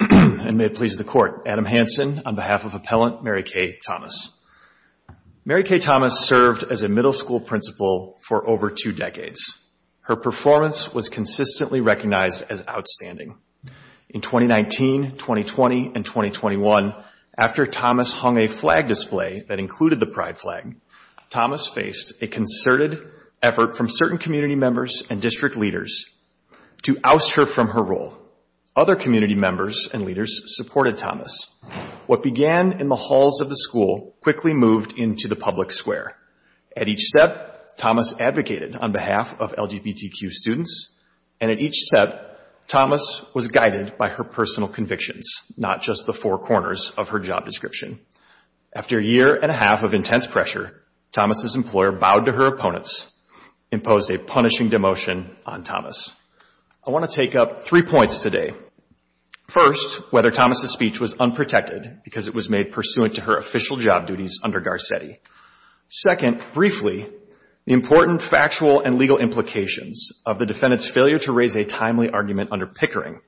And may it please the Court, Adam Hansen on behalf of Appellant Mary Kay Thomas. Mary Kay Thomas served as a middle school principal for over two decades. Her performance was consistently recognized as outstanding. In 2019, 2020, and 2021, after Thomas hung a flag display that included the pride flag, Thomas faced a concerted effort from certain community members and district leaders to oust her from her role. Other community members and leaders supported Thomas. What began in the halls of the school quickly moved into the public square. At each step, Thomas advocated on behalf of LGBTQ students, and at each step, Thomas was guided by her personal convictions, not just the four corners of her job description. After a year and a half of intense pressure, Thomas's employer bowed to her opponents, imposed a punishing demotion on Thomas. I want to take up three points today. First, whether Thomas's speech was unprotected because it was made pursuant to her official job duties under Garcetti. Second, briefly, the important factual and legal implications of the defendant's failure to raise a timely argument under Pickering.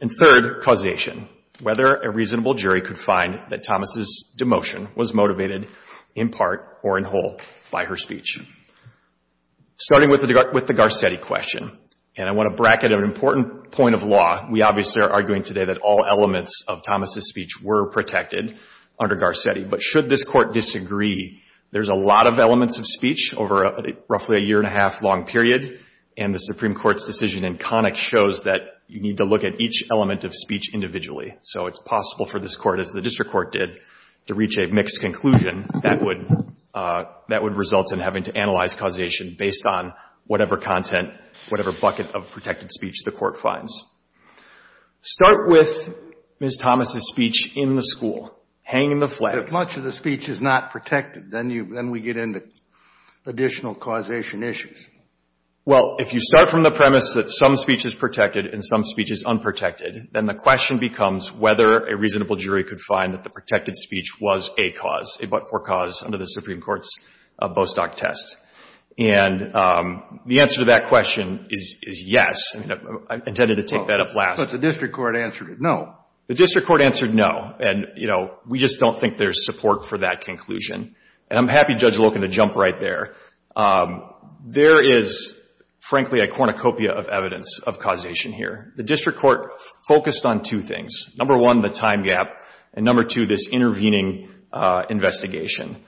And third, causation, whether a reasonable jury could find that Thomas's demotion was motivated in part or in whole by her speech. Starting with the Garcetti question, and I want to bracket an important point of law. We obviously are arguing today that all elements of Thomas's speech were protected under Garcetti, but should this court disagree, there's a lot of elements of speech over roughly a year and a half long period, and the Supreme Court's decision in Connick shows that you need to look at each element of speech individually. So it's possible for this court, as the district court did, to reach a mixed conclusion. That would result in having to analyze causation based on whatever content, whatever bucket of protected speech the court finds. Start with Ms. Thomas's speech in the school. Hang the flags. If much of the speech is not protected, then we get into additional causation issues. Well, if you start from the premise that some speech is protected and some speech is unprotected, then the question becomes whether a reasonable jury could find that the protected speech was a cause, a but-for cause, under the Supreme Court's Bostock test. And the answer to that question is yes. I intended to take that up last. But the district court answered no. The district court answered no, and, you know, we just don't think there's support for that conclusion. And I'm happy Judge Loken to jump right there. There is, frankly, a cornucopia of evidence of causation here. The district court focused on two things. Number one, the time gap, and number two, this intervening investigation.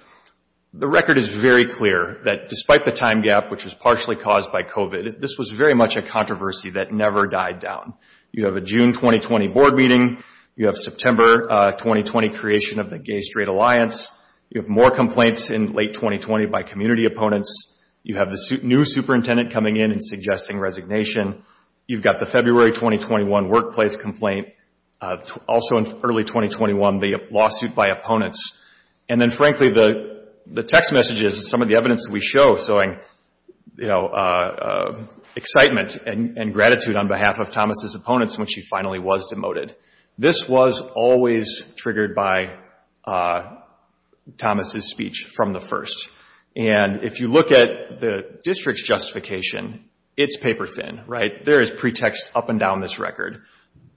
The record is very clear that despite the time gap, which was partially caused by COVID, this was very much a controversy that never died down. You have a June 2020 board meeting. You have September 2020 creation of the Gay-Straight Alliance. You have more complaints in late 2020 by community opponents. You have the new superintendent coming in and suggesting resignation. You've got the February 2021 workplace complaint. Also in early 2021, the lawsuit by opponents. And then, frankly, the text messages and some of the evidence that we show showing excitement and gratitude on behalf of Thomas's opponents when she finally was demoted. This was always triggered by Thomas's speech from the first. And if you look at the district's justification, it's paper thin, right? There is pretext up and down this record.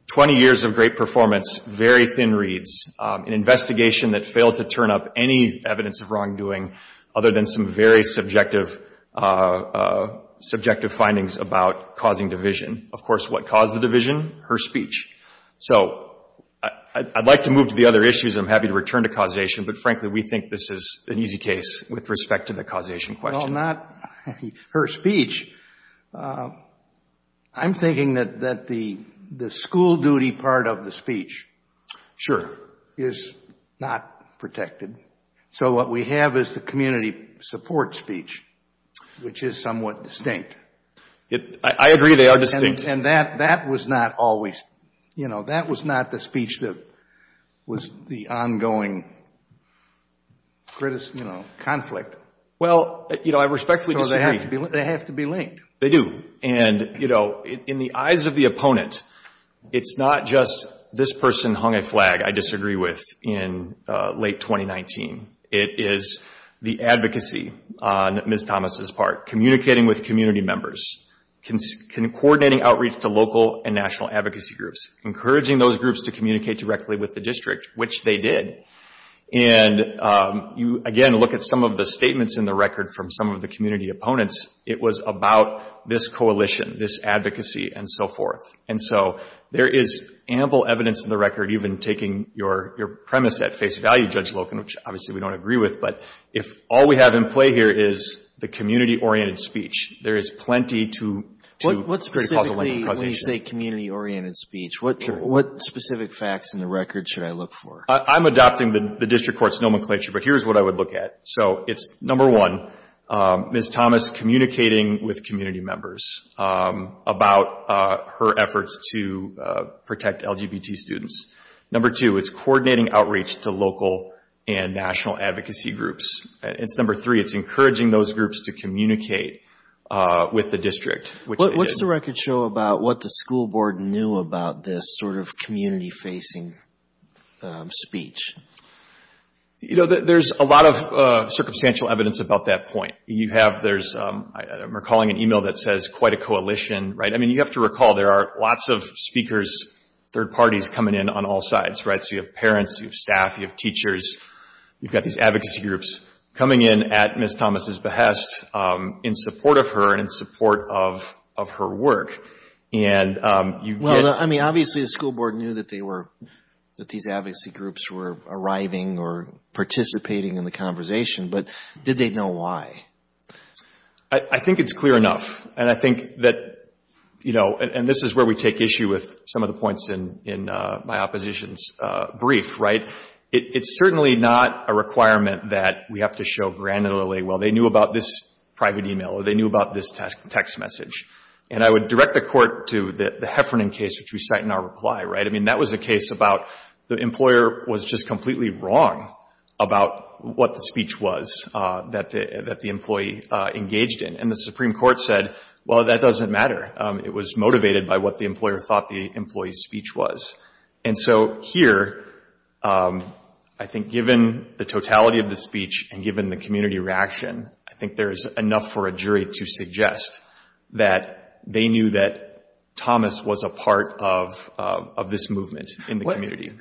Twenty years of great performance, very thin reads, an investigation that failed to turn up any evidence of wrongdoing other than some very subjective findings about causing division. Of course, what caused the division? Her speech. So I'd like to move to the other issues. I'm happy to return to causation. But frankly, we think this is an easy case with respect to the causation question. Well, not her speech. I'm thinking that the school duty part of the speech is not protected. So what we have is the community support speech, which is somewhat distinct. I agree. They are distinct. And that was not always, you know, that was not the speech that was the ongoing, you know, conflict. Well, you know, I respectfully disagree. They have to be linked. They do. And, you know, in the eyes of the opponent, it's not just this person hung a flag I disagree with in late 2019. It is the advocacy on Ms. Thomas's part, communicating with community members, coordinating outreach to local and national advocacy groups, encouraging those groups to communicate directly with the district, which they did. And you, again, look at some of the statements in the record from some of the community opponents. It was about this coalition, this advocacy, and so forth. And so there is ample evidence in the record, even taking your premise at face value, Judge Loken, which obviously we don't agree with. But if all we have in play here is the community-oriented speech, there is plenty to What specifically, when you say community-oriented speech, what specific facts in the record should I look for? I'm adopting the district court's nomenclature, but here's what I would look at. So it's, number one, Ms. Thomas communicating with community members about her efforts to protect LGBT students. Number two, it's coordinating outreach to local and national advocacy groups. It's number three, it's encouraging those groups to communicate with the district, which What's the record show about what the school board knew about this sort of community-facing speech? There's a lot of circumstantial evidence about that point. You have, there's, I'm recalling an email that says quite a coalition, right? I mean, you have to recall there are lots of speakers, third parties coming in on all sides, right? So you have parents, you have staff, you have teachers. You've got these advocacy groups coming in at Ms. Thomas' behest in support of her and support of her work. And you get Well, I mean, obviously the school board knew that they were, that these advocacy groups were arriving or participating in the conversation, but did they know why? I think it's clear enough, and I think that, you know, and this is where we take issue with some of the points in my opposition's brief, right? It's certainly not a requirement that we have to show granularly, well, they knew about this private email or they knew about this text message. And I would direct the court to the Heffernan case, which we cite in our reply, right? I mean, that was a case about the employer was just completely wrong about what the speech was that the employee engaged in. And the Supreme Court said, well, that doesn't matter. It was motivated by what the employer thought the employee's speech was. And so here, I think given the totality of the speech and given the community reaction, I think there's enough for a jury to suggest that they knew that Thomas was a part of this movement in the community.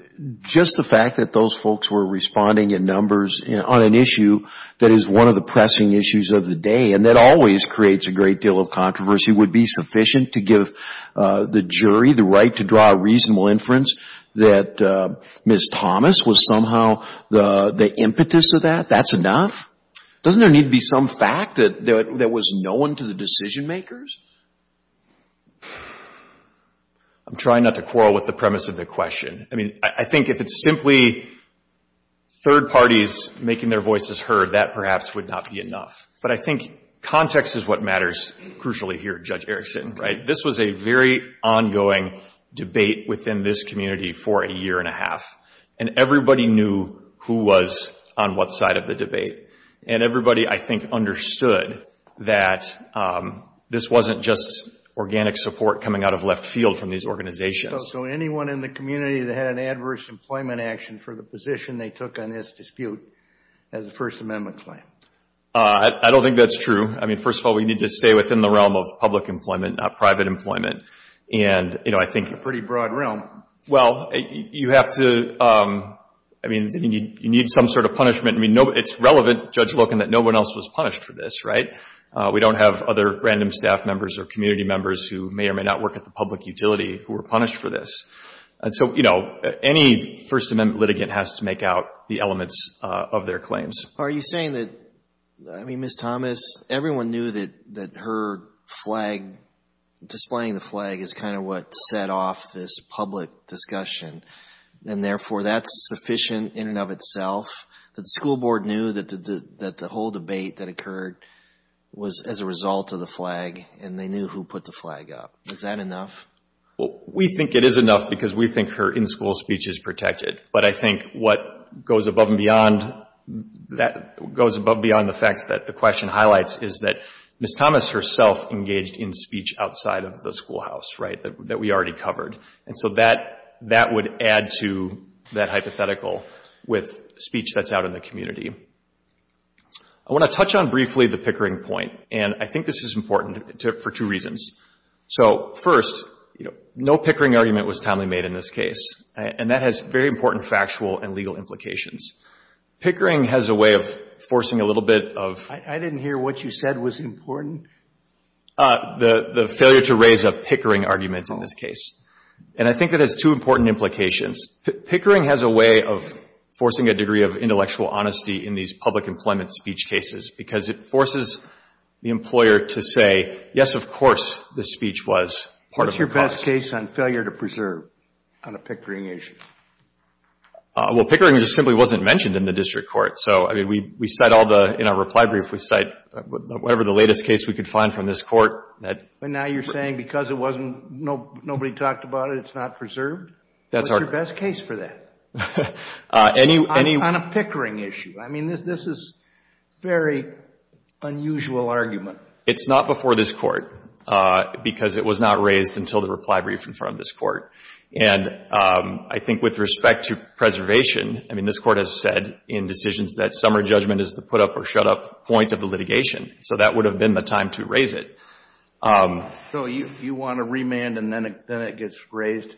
Just the fact that those folks were responding in numbers on an issue that is one of the pressing issues of the day, and that always creates a great deal of controversy, would be sufficient to give the jury the right to draw a reasonable inference that Ms. Thomas was somehow the impetus of that? That's enough? Doesn't there need to be some fact that was known to the decision-makers? I'm trying not to quarrel with the premise of the question. I mean, I think if it's simply third parties making their voices heard, that perhaps would not be enough. But I think context is what matters crucially here, Judge Erickson, right? This was a very ongoing debate within this community for a year and a half. And everybody knew who was on what side of the debate. And everybody, I think, understood that this wasn't just organic support coming out of left field from these organizations. So anyone in the community that had an adverse employment action for the position they took on this dispute has a First Amendment claim? I don't think that's true. I mean, first of all, we need to stay within the realm of public employment, not private employment. And, you know, I think... It's a pretty broad realm. Well, you have to, I mean, you need some sort of punishment. I mean, it's relevant, Judge Loken, that no one else was punished for this, right? We don't have other random staff members or community members who may or may not work at the public utility who were punished for this. And so, you know, any First Amendment litigant has to make out the elements of their claims. Are you saying that, I mean, Ms. Thomas, everyone knew that her flag, displaying the flag is kind of what set off this public discussion, and therefore that's sufficient in and of itself, that the school board knew that the whole debate that occurred was as a result of the flag, and they knew who put the flag up? Is that enough? Well, we think it is enough because we think her in-school speech is protected. But I think what goes above and beyond that, goes above and beyond the facts that the question asks, right, that we already covered. And so that would add to that hypothetical with speech that's out in the community. I want to touch on briefly the Pickering point, and I think this is important for two reasons. So first, you know, no Pickering argument was timely made in this case, and that has very important factual and legal implications. Pickering has a way of forcing a little bit of... I didn't hear what you said was important. The failure to raise a Pickering argument in this case. And I think that has two important implications. Pickering has a way of forcing a degree of intellectual honesty in these public employment speech cases because it forces the employer to say, yes, of course, this speech was part What's your best case on failure to preserve on a Pickering issue? Well, Pickering just simply wasn't mentioned in the district court. So, I mean, we cite all the... in our reply brief, we cite whatever the latest case we could find from this court that... And now you're saying because it wasn't... nobody talked about it, it's not preserved? That's our... What's your best case for that? Any... On a Pickering issue. I mean, this is a very unusual argument. It's not before this court because it was not raised until the reply brief in front of this court. And I think with respect to preservation, I mean, this court has said in decisions that summer judgment is the put-up or shut-up point of the litigation. So that would have been the time to raise it. So you want to remand and then it gets raised?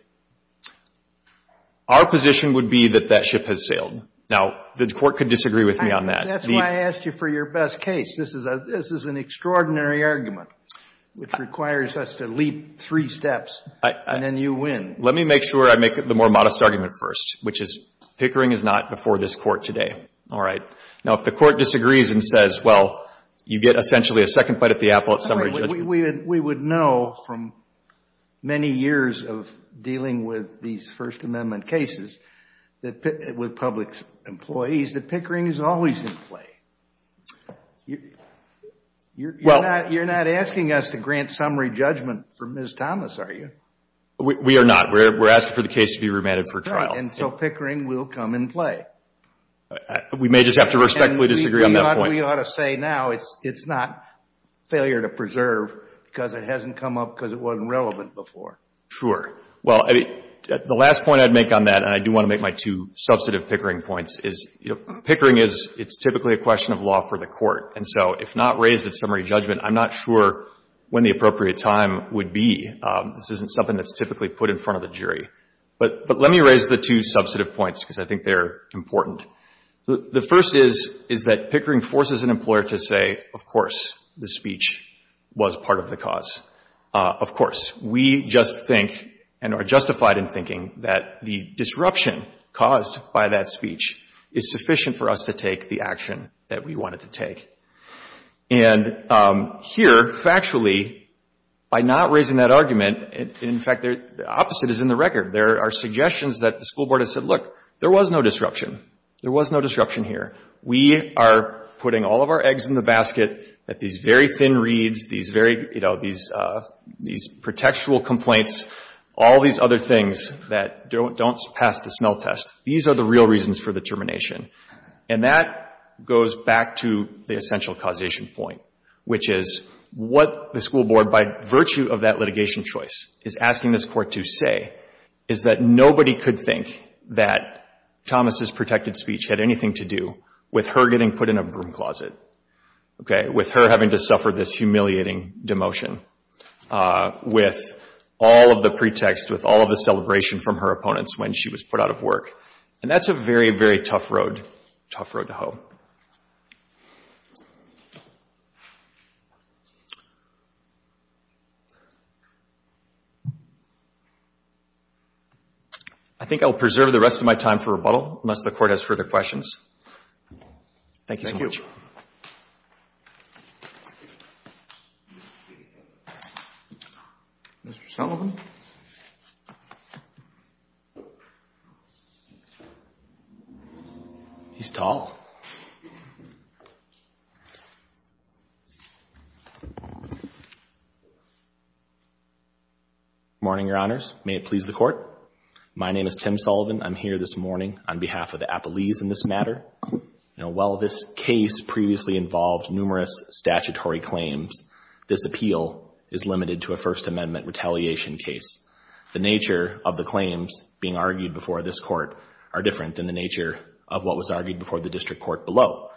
Our position would be that that ship has sailed. Now the court could disagree with me on that. That's why I asked you for your best case. This is an extraordinary argument which requires us to leap three steps and then you win. Let me make sure I make the more modest argument first, which is Pickering is not before this court today. All right. Now if the court disagrees and says, well, you get essentially a second bite at the apple at summer judgment... We would know from many years of dealing with these First Amendment cases with public employees that Pickering is always in play. You're not asking us to grant summary judgment for Ms. Thomas, are you? We are not. We're asking for the case to be remanded for trial. Right. And so Pickering will come in play. We may just have to respectfully disagree on that point. And we ought to say now it's not failure to preserve because it hasn't come up because it wasn't relevant before. Sure. Well, I mean, the last point I'd make on that, and I do want to make my two substantive Pickering points, is Pickering is, it's typically a question of law for the court. And so if not raised at summary judgment, I'm not sure when the appropriate time would be. This isn't something that's typically put in front of the jury. But let me raise the two substantive points because I think they're important. The first is, is that Pickering forces an employer to say, of course, the speech was part of the cause. Of course. We just think and are justified in thinking that the disruption caused by that speech is sufficient for us to take the action that we wanted to take. And here, factually, by not raising that argument, in fact, the opposite is in the record. There are suggestions that the school board has said, look, there was no disruption. There was no disruption here. We are putting all of our eggs in the basket, that these very thin reads, these very, you know, these, these pretextual complaints, all these other things that don't pass the smell test. These are the real reasons for the termination. And that goes back to the essential causation point, which is what the school board, by virtue of that litigation choice, is asking this court to say, is that nobody could think that Thomas's protected speech had anything to do with her getting put in a broom closet, with her having to suffer this humiliating demotion, with all of the pretext, with all of the celebration from her opponents when she was put out of work. And that's a very, very tough road, tough road to hoe. I think I'll preserve the rest of my time for rebuttal, unless the court has further questions. Thank you so much. Mr. Sullivan? He's tall. Good morning, Your Honors. May it please the Court. My name is Tim Sullivan. I'm here this morning on behalf of the Appellees in this matter. While this case previously involved numerous statutory claims, this appeal is limited to a First Amendment retaliation case. The nature of the claims being argued before this Court are different than the nature of what was argued before the District Court below.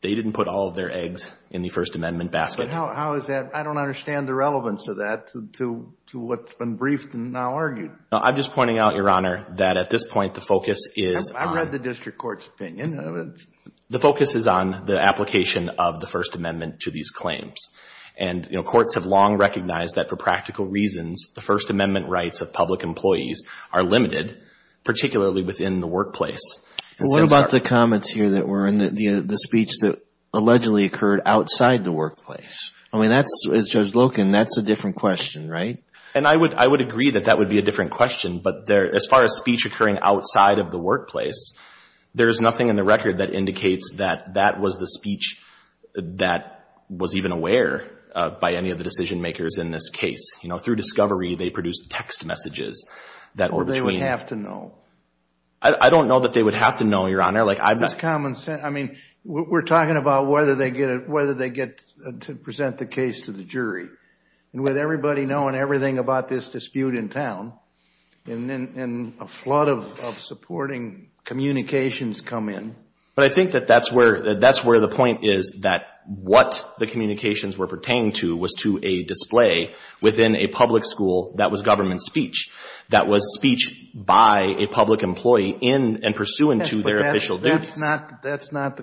They didn't put all of their eggs in the First Amendment basket. But how is that? I don't understand the relevance of that to what's been briefed and now argued. No, I'm just pointing out, Your Honor, that at this point, the focus is on... I read the District Court's opinion. The focus is on the application of the First Amendment to these claims. And courts have long recognized that for practical reasons, the First Amendment rights of public employees are limited, particularly within the workplace. What about the comments here that were in the speech that allegedly occurred outside the workplace? I mean, as Judge Loken, that's a different question, right? And I would agree that that would be a different question. But as far as speech occurring outside of the workplace, there is nothing in the record that indicates that that was the speech that was even aware of by any of the decision makers in this case. You know, through discovery, they produced text messages that were between... Or they would have to know. I don't know that they would have to know, Your Honor. Like, I've not... There's common sense. I mean, we're talking about whether they get to present the case to the jury. With everybody knowing everything about this dispute in town, and a flood of supporting communications come in... But I think that that's where the point is, that what the communications were pertaining to was to a display within a public school that was government speech, that was speech by a public employee in and pursuant to their official duties. That's not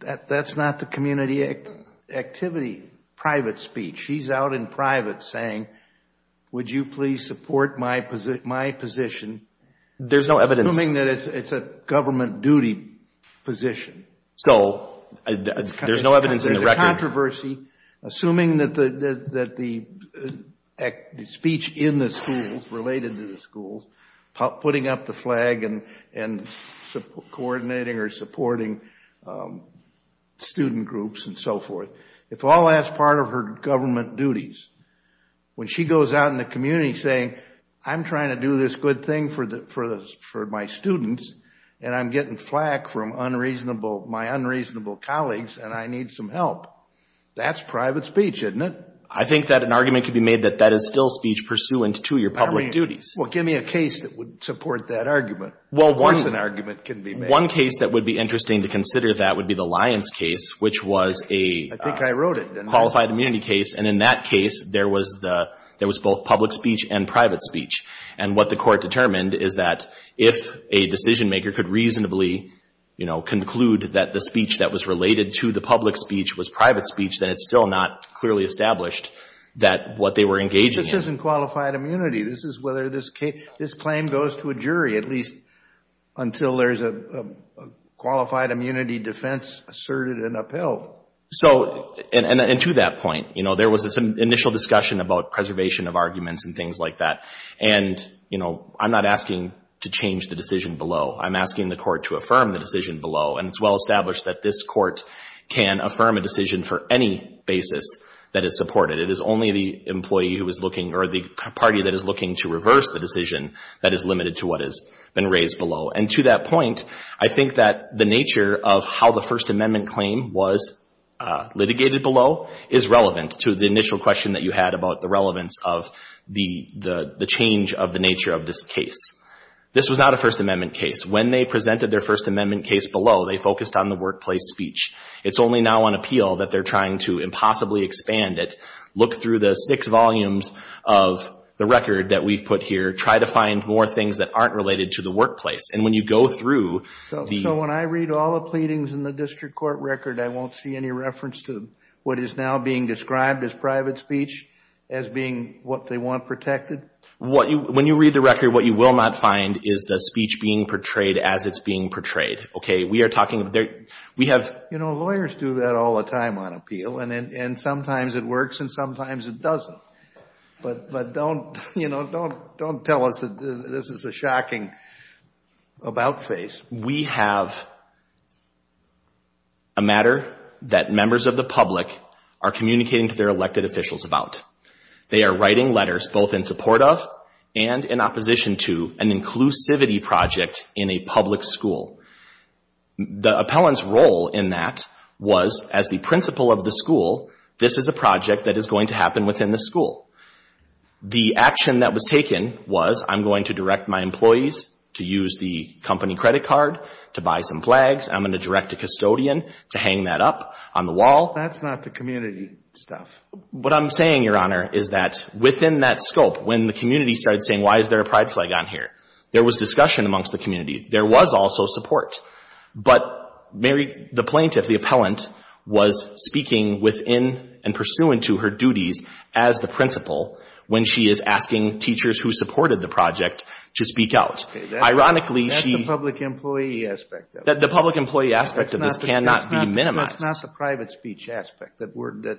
the community activity private speech. He's out in private saying, would you please support my position... There's no evidence... Assuming that it's a government duty position. So there's no evidence in the record... Assuming that the speech in the schools, related to the schools, putting up the flag and coordinating or supporting student groups and so forth, if all that's part of her government duties, when she goes out in the community saying, I'm trying to do this good thing for my students, and I'm getting flack from my unreasonable colleagues, and I need some help. That's private speech, isn't it? I think that an argument could be made that that is still speech pursuant to your public duties. Well, give me a case that would support that argument. Well, one... Of course an argument can be made. One case that would be interesting to consider that would be the Lyons case, which was a... I think I wrote it.... qualified immunity case. And in that case, there was both public speech and private speech. And what the Court determined is that if a decision maker could reasonably, you know, conclude that the speech that was related to the public speech was private speech, then it's still not clearly established that what they were engaging in. This isn't qualified immunity. This is whether this claim goes to a jury, at least until there's a qualified immunity defense asserted and upheld. So, and to that point, you know, there was this initial discussion about preservation of arguments and things like that. And, you know, I'm not asking to change the decision below. I'm asking the Court to affirm the decision below. And it's well established that this Court can affirm a decision for any basis that is supported. It is only the employee who is looking or the party that is looking to reverse the decision that is limited to what has been raised below. And to that point, I think that the nature of how the First Amendment claim was litigated below is relevant to the initial question that you had about the relevance of the change of the nature of this case. This was not a First Amendment case. When they presented their First Amendment case below, they focused on the workplace speech. It's only now on appeal that they're trying to impossibly expand it, look through the six volumes of the record that we've put here, try to find more things that aren't related to the workplace. And when you go through the- So when I read all the pleadings in the district court record, I won't see any reference to what is now being described as private speech as being what they want protected? When you read the record, what you will not find is the speech being portrayed as it's being portrayed. Okay, we are talking about- We have- You know, lawyers do that all the time on appeal, and sometimes it works and sometimes it doesn't. But don't tell us that this is a shocking about face. We have a matter that members of the public are communicating to their elected officials about. They are writing letters both in support of and in opposition to an inclusivity project in a public school. The appellant's role in that was, as the principal of the school, this is a project that is going to happen within the school. The action that was taken was, I'm going to direct my employees to use the company credit card to buy some flags. I'm going to direct a custodian to hang that up on the wall. That's not the community stuff. What I'm saying, Your Honor, is that within that scope, when the community started saying, why is there a pride flag on here? There was discussion amongst the community. There was also support. But Mary, the plaintiff, the appellant, was speaking within and pursuant to her duties as the principal when she is asking teachers who supported the project to speak out. Ironically, she- That's the public employee aspect of it. The public employee aspect of this cannot be minimized. It's not the private speech aspect that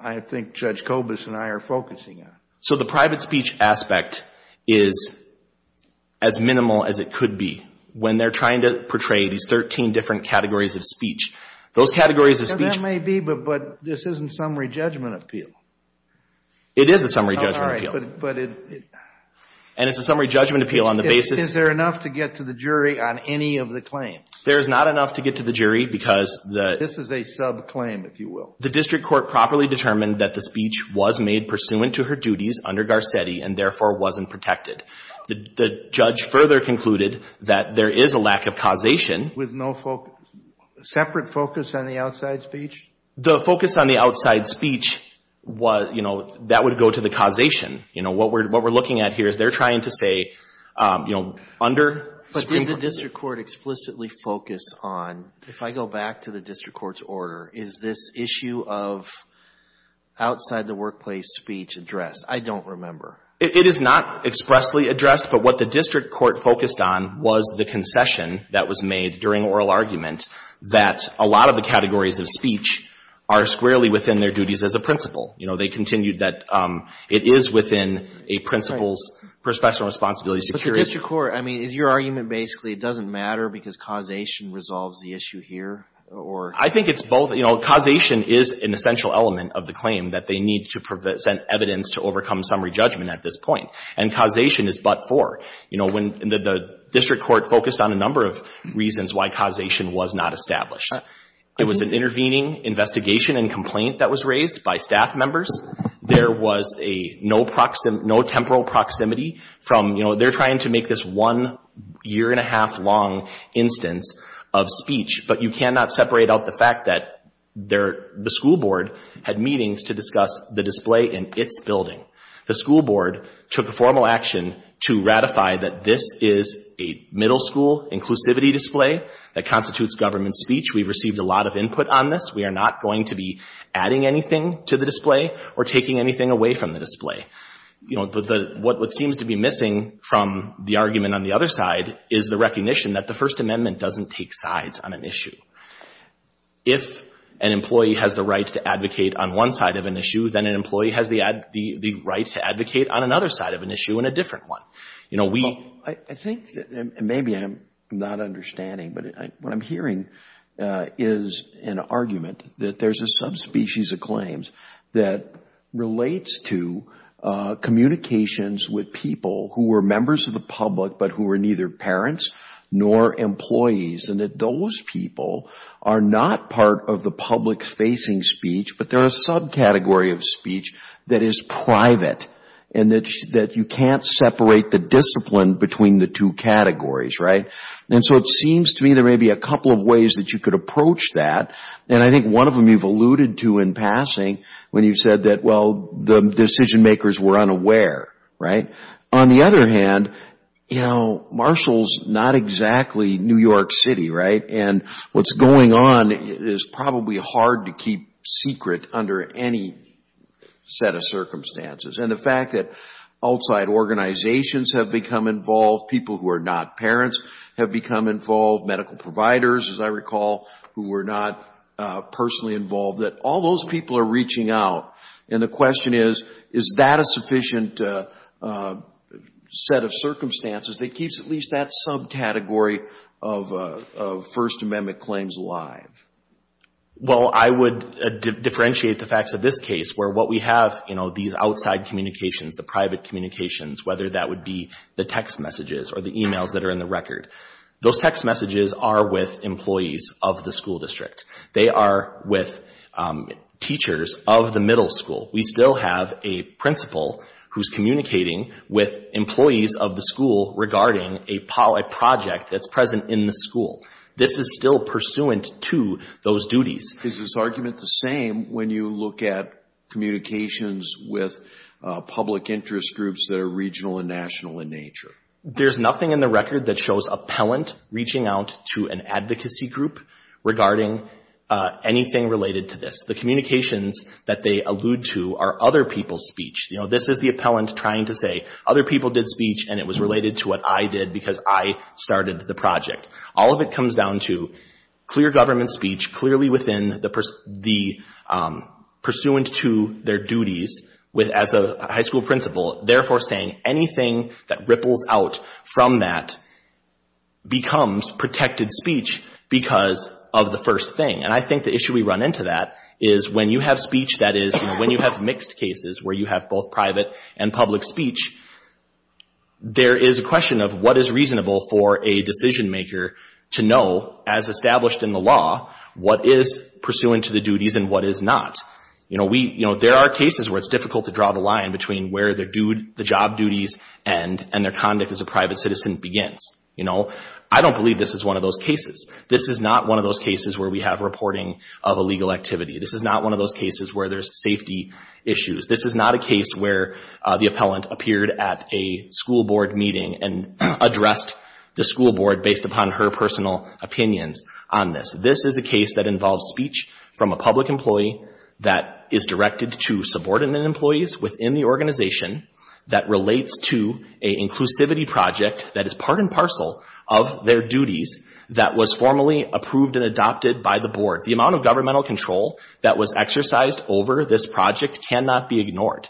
I think Judge Kobus and I are focusing on. So the private speech aspect is as minimal as it could be. When they're trying to portray these 13 different categories of speech, those categories of speech- That may be, but this isn't summary judgment appeal. It is a summary judgment appeal. And it's a summary judgment appeal on the basis- Is there enough to get to the jury on any of the claims? There is not enough to get to the jury because the- This is a subclaim, if you will. The district court properly determined that the speech was made pursuant to her duties under Garcetti and therefore wasn't protected. The judge further concluded that there is a lack of causation- With no separate focus on the outside speech? The focus on the outside speech was, you know, that would go to the causation. You know, what we're looking at here is they're trying to say, you know, under- But did the district court explicitly focus on, if I go back to the district court's order, is this issue of outside the workplace speech addressed? I don't remember. It is not expressly addressed, but what the district court focused on was the concession that was made during oral argument that a lot of the categories of speech are squarely within their duties as a principle. You know, they continued that it is within a principle's professional responsibility to curate- The district court, I mean, is your argument basically it doesn't matter because causation resolves the issue here, or- I think it's both. You know, causation is an essential element of the claim that they need to present evidence to overcome summary judgment at this point. And causation is but for. You know, the district court focused on a number of reasons why causation was not established. It was an intervening investigation and complaint that was raised by staff members. There was no temporal proximity from, you know, they're trying to make this one year and a half long instance of speech, but you cannot separate out the fact that the school board had meetings to discuss the display in its building. The school board took a formal action to ratify that this is a middle school inclusivity display that constitutes government speech. We've received a lot of input on this. We are not going to be adding anything to the display or taking anything away from the display. You know, what seems to be missing from the argument on the other side is the recognition that the First Amendment doesn't take sides on an issue. If an employee has the right to advocate on one side of an issue, then an employee has the right to advocate on another side of an issue and a different one. You know, we- I think, and maybe I'm not understanding, but what I'm hearing is an argument that there's a subspecies of claims that relates to communications with people who were members of the public but who were neither parents nor employees and that those people are not part of the public's facing speech, but they're a subcategory of speech that is private and that you can't separate the discipline between the two categories, right? And so it seems to me there may be a couple of ways that you could approach that and I think one of them you've alluded to in passing when you said that, well, the decision makers were unaware, right? On the other hand, you know, Marshall's not exactly New York City, right? And what's going on is probably hard to keep secret under any set of circumstances. And the fact that outside organizations have become involved, people who are not parents have become involved, medical providers, as I recall, who were not personally involved, that all those people are reaching out and the question is, is that a sufficient set of circumstances that keeps at least that subcategory of First Amendment claims alive? Well, I would differentiate the facts of this case where what we have, you know, these outside communications, the private communications, whether that would be the text messages or the emails that are in the record, those text messages are with employees of the school district. They are with teachers of the middle school. We still have a principal who's communicating with employees of the school regarding a project that's present in the school. This is still pursuant to those duties. Is this argument the same when you look at communications with public interest groups that are regional and national in nature? There's nothing in the record that shows appellant reaching out to an advocacy group regarding anything related to this. The communications that they allude to are other people's speech. You know, this is the appellant trying to say other people did speech and it was related to what I did because I started the project. All of it comes down to clear government speech, clearly within the pursuant to their duties with as a high school principal. Therefore, saying anything that ripples out from that becomes protected speech because of the first thing. And I think the issue we run into that is when you have speech that is, you know, when you have mixed cases where you have both private and public speech, there is a question of what is reasonable for a decision maker to know, as established in the law, what is pursuant to the duties and what is not. You know, there are cases where it's difficult to draw the line between where the job duties and their conduct as a private citizen begins. You know, I don't believe this is one of those cases. This is not one of those cases where we have reporting of illegal activity. This is not one of those cases where there's safety issues. This is not a case where the appellant appeared at a school board meeting and addressed the school board based upon her personal opinions on this. This is a case that involves speech from a public employee that is directed to subordinate employees within the organization that relates to a inclusivity project that is part and parcel of their duties that was formally approved and adopted by the board. The amount of governmental control that was exercised over this project cannot be ignored.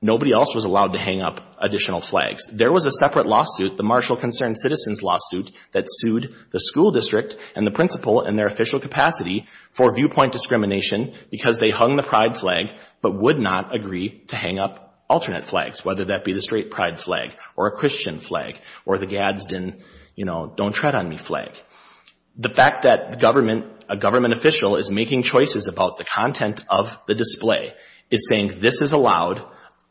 Nobody else was allowed to hang up additional flags. There was a separate lawsuit, the Marshall Concerned Citizens lawsuit, that sued the school district and the principal in their official capacity for viewpoint discrimination because they hung the pride flag but would not agree to hang up alternate flags, whether that be the straight pride flag or a Christian flag or the Gadsden, you know, don't tread on me flag. The fact that a government official is making choices about the content of the display is saying this is allowed,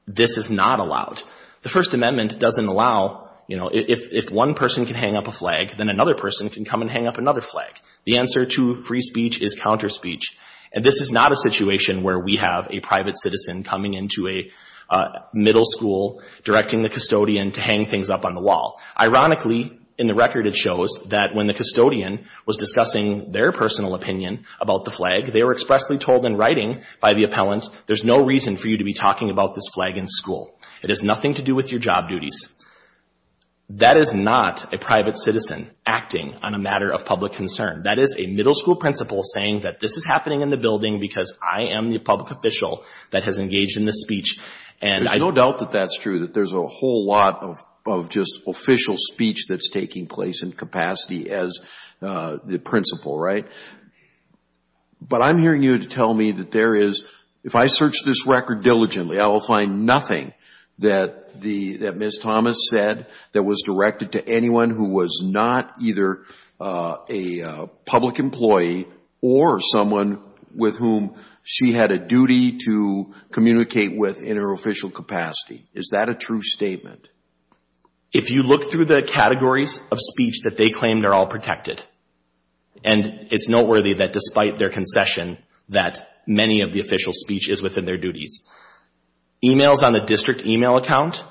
this is not allowed. The First Amendment doesn't allow, you know, if one person can hang up a flag, then another person can come and hang up another flag. The answer to free speech is counter speech, and this is not a situation where we have a private citizen coming into a middle school, directing the custodian to hang things up on the wall. Ironically, in the record, it shows that when the custodian was discussing their personal opinion about the flag, they were expressly told in writing by the appellant, there's no reason for you to be talking about this flag in school. It has nothing to do with your job duties. That is not a private citizen acting on a matter of public concern. That is a middle school principal saying that this is happening in the building because I am the public official that has engaged in this speech. And I no doubt that that's true, that there's a whole lot of just official speech that's taking place in capacity as the principal, right? But I'm hearing you to tell me that there is, if I search this record diligently, I will find nothing that Ms. Thomas said that was directed to anyone who was not either a public employee or someone with whom she had a duty to communicate with in her official capacity. Is that a true statement? If you look through the categories of speech that they claim, they're all protected. And it's noteworthy that despite their concession that many of the official speech is within their duties. Emails on the district email account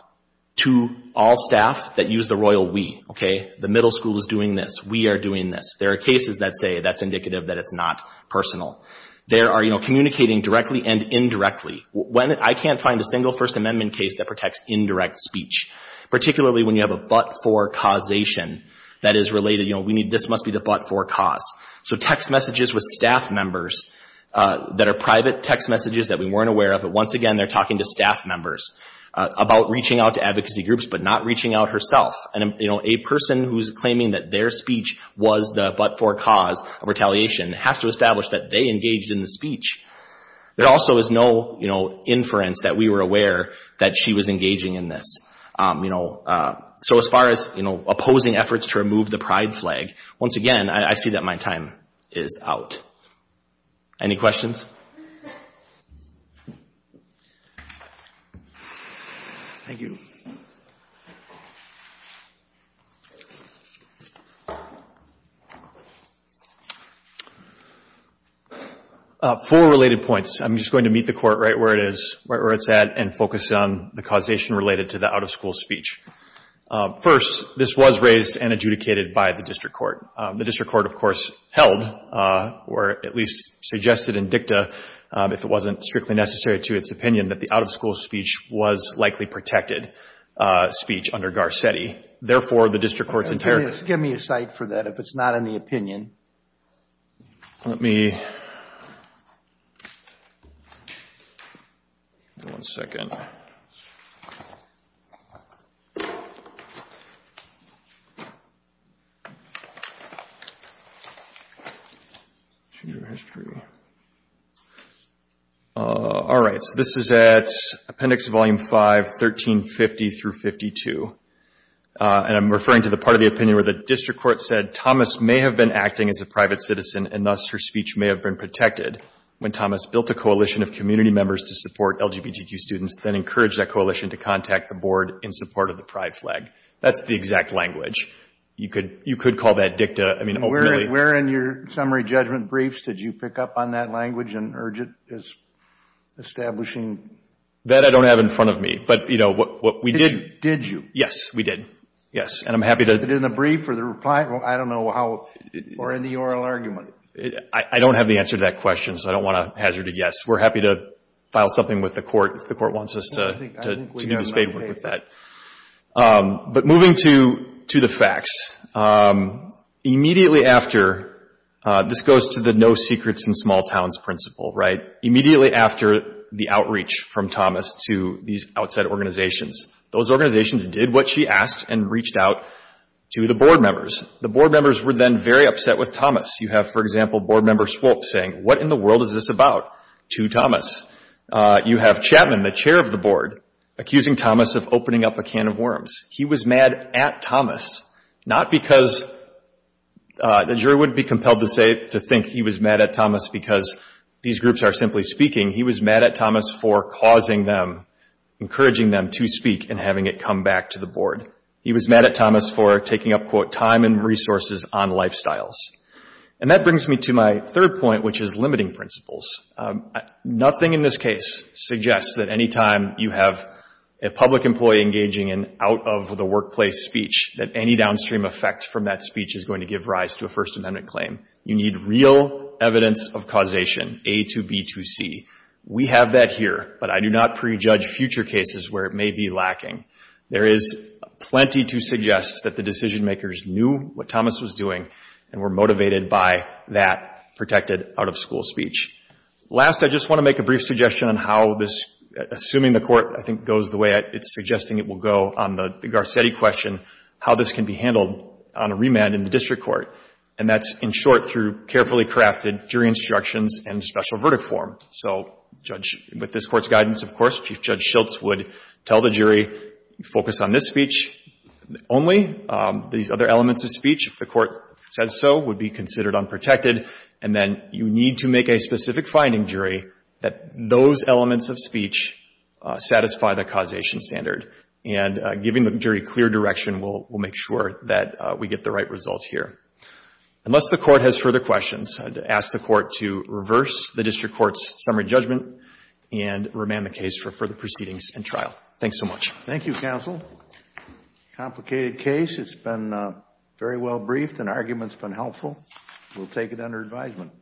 to all staff that use the royal we, okay? The middle school is doing this. We are doing this. There are cases that say that's indicative that it's not personal. There are, you know, communicating directly and indirectly. When I can't find a single First Amendment case that protects indirect speech, particularly when you have a but-for causation that is related, you know, we need, this must be the but-for cause. So text messages with staff members that are private text messages that we weren't aware of, but once again, they're talking to staff members about reaching out to advocacy groups but not reaching out herself. And, you know, a person who's claiming that their speech was the but-for cause of retaliation has to establish that they engaged in the speech. There also is no, you know, inference that we were aware that she was engaging in this. You know, so as far as, you know, opposing efforts to remove the pride flag, once again, I see that my time is out. Any questions? Thank you. Four related points. I'm just going to meet the court right where it is, right where it's at, and focus on the causation related to the out-of-school speech. First, this was raised and adjudicated by the district court. The district court, of course, held or at least suggested in dicta, if it wasn't strictly necessary to its opinion, that the out-of-school speech was likely protected speech under Garcetti. Therefore, the district court's entire Give me a cite for that, if it's not in the opinion. Let me One second. All right, so this is at Appendix Volume 5, 1350 through 52, and I'm referring to the part of the opinion where the district court said Thomas may have been acting as a private citizen, and thus her speech may have been protected when Thomas built a coalition of community members to support LGBTQ students, then encouraged that coalition to contact the board in support of the pride flag. That's the exact language. You could call that dicta. I mean, ultimately Where in your summary judgment briefs did you pick up on that language and urge it as establishing That I don't have in front of me, but, you know, what we did Did you? Yes, we did. Yes, and I'm happy to In the brief or the reply? Well, I don't know how or in the oral argument. I don't have the answer to that question, so I don't want to hazard a yes. We're happy to file something with the court if the court wants us to do the spadework with that. But moving to the facts, immediately after, this goes to the no secrets in small towns principle, right? Immediately after the outreach from Thomas to these outside organizations, those organizations did what she asked and reached out to the board members. The board members were then very upset with Thomas. You have, for example, board member Swope saying, what in the world is this about to Thomas? You have Chapman, the chair of the board, accusing Thomas of opening up a can of worms. He was mad at Thomas, not because the jury wouldn't be compelled to say, to think he was mad at Thomas because these groups are simply speaking. He was mad at Thomas for causing them, encouraging them to speak and having it come back to the He was mad at Thomas for taking up, quote, time and resources on lifestyles. And that brings me to my third point, which is limiting principles. Nothing in this case suggests that any time you have a public employee engaging in out of the workplace speech, that any downstream effects from that speech is going to give rise to a First Amendment claim. You need real evidence of causation, A to B to C. We have that here, but I do not prejudge future cases where it may be lacking. There is plenty to suggest that the decision makers knew what Thomas was doing and were motivated by that protected out of school speech. Last, I just want to make a brief suggestion on how this, assuming the court, I think, goes the way it's suggesting it will go on the Garcetti question, how this can be handled on a remand in the district court. And that's, in short, through carefully crafted jury instructions and special verdict form. So with this court's guidance, of course, Chief Judge Schultz would tell the jury, focus on this speech only. These other elements of speech, if the court says so, would be considered unprotected. And then you need to make a specific finding, jury, that those elements of speech satisfy the causation standard. And giving the jury clear direction will make sure that we get the right result here. Unless the court has further questions, I'd ask the court to reverse the district court's summary judgment and remand the case for further proceedings and trial. Thanks so much. Thank you, counsel. Complicated case. It's been very well briefed and argument's been helpful. We'll take it under advisement.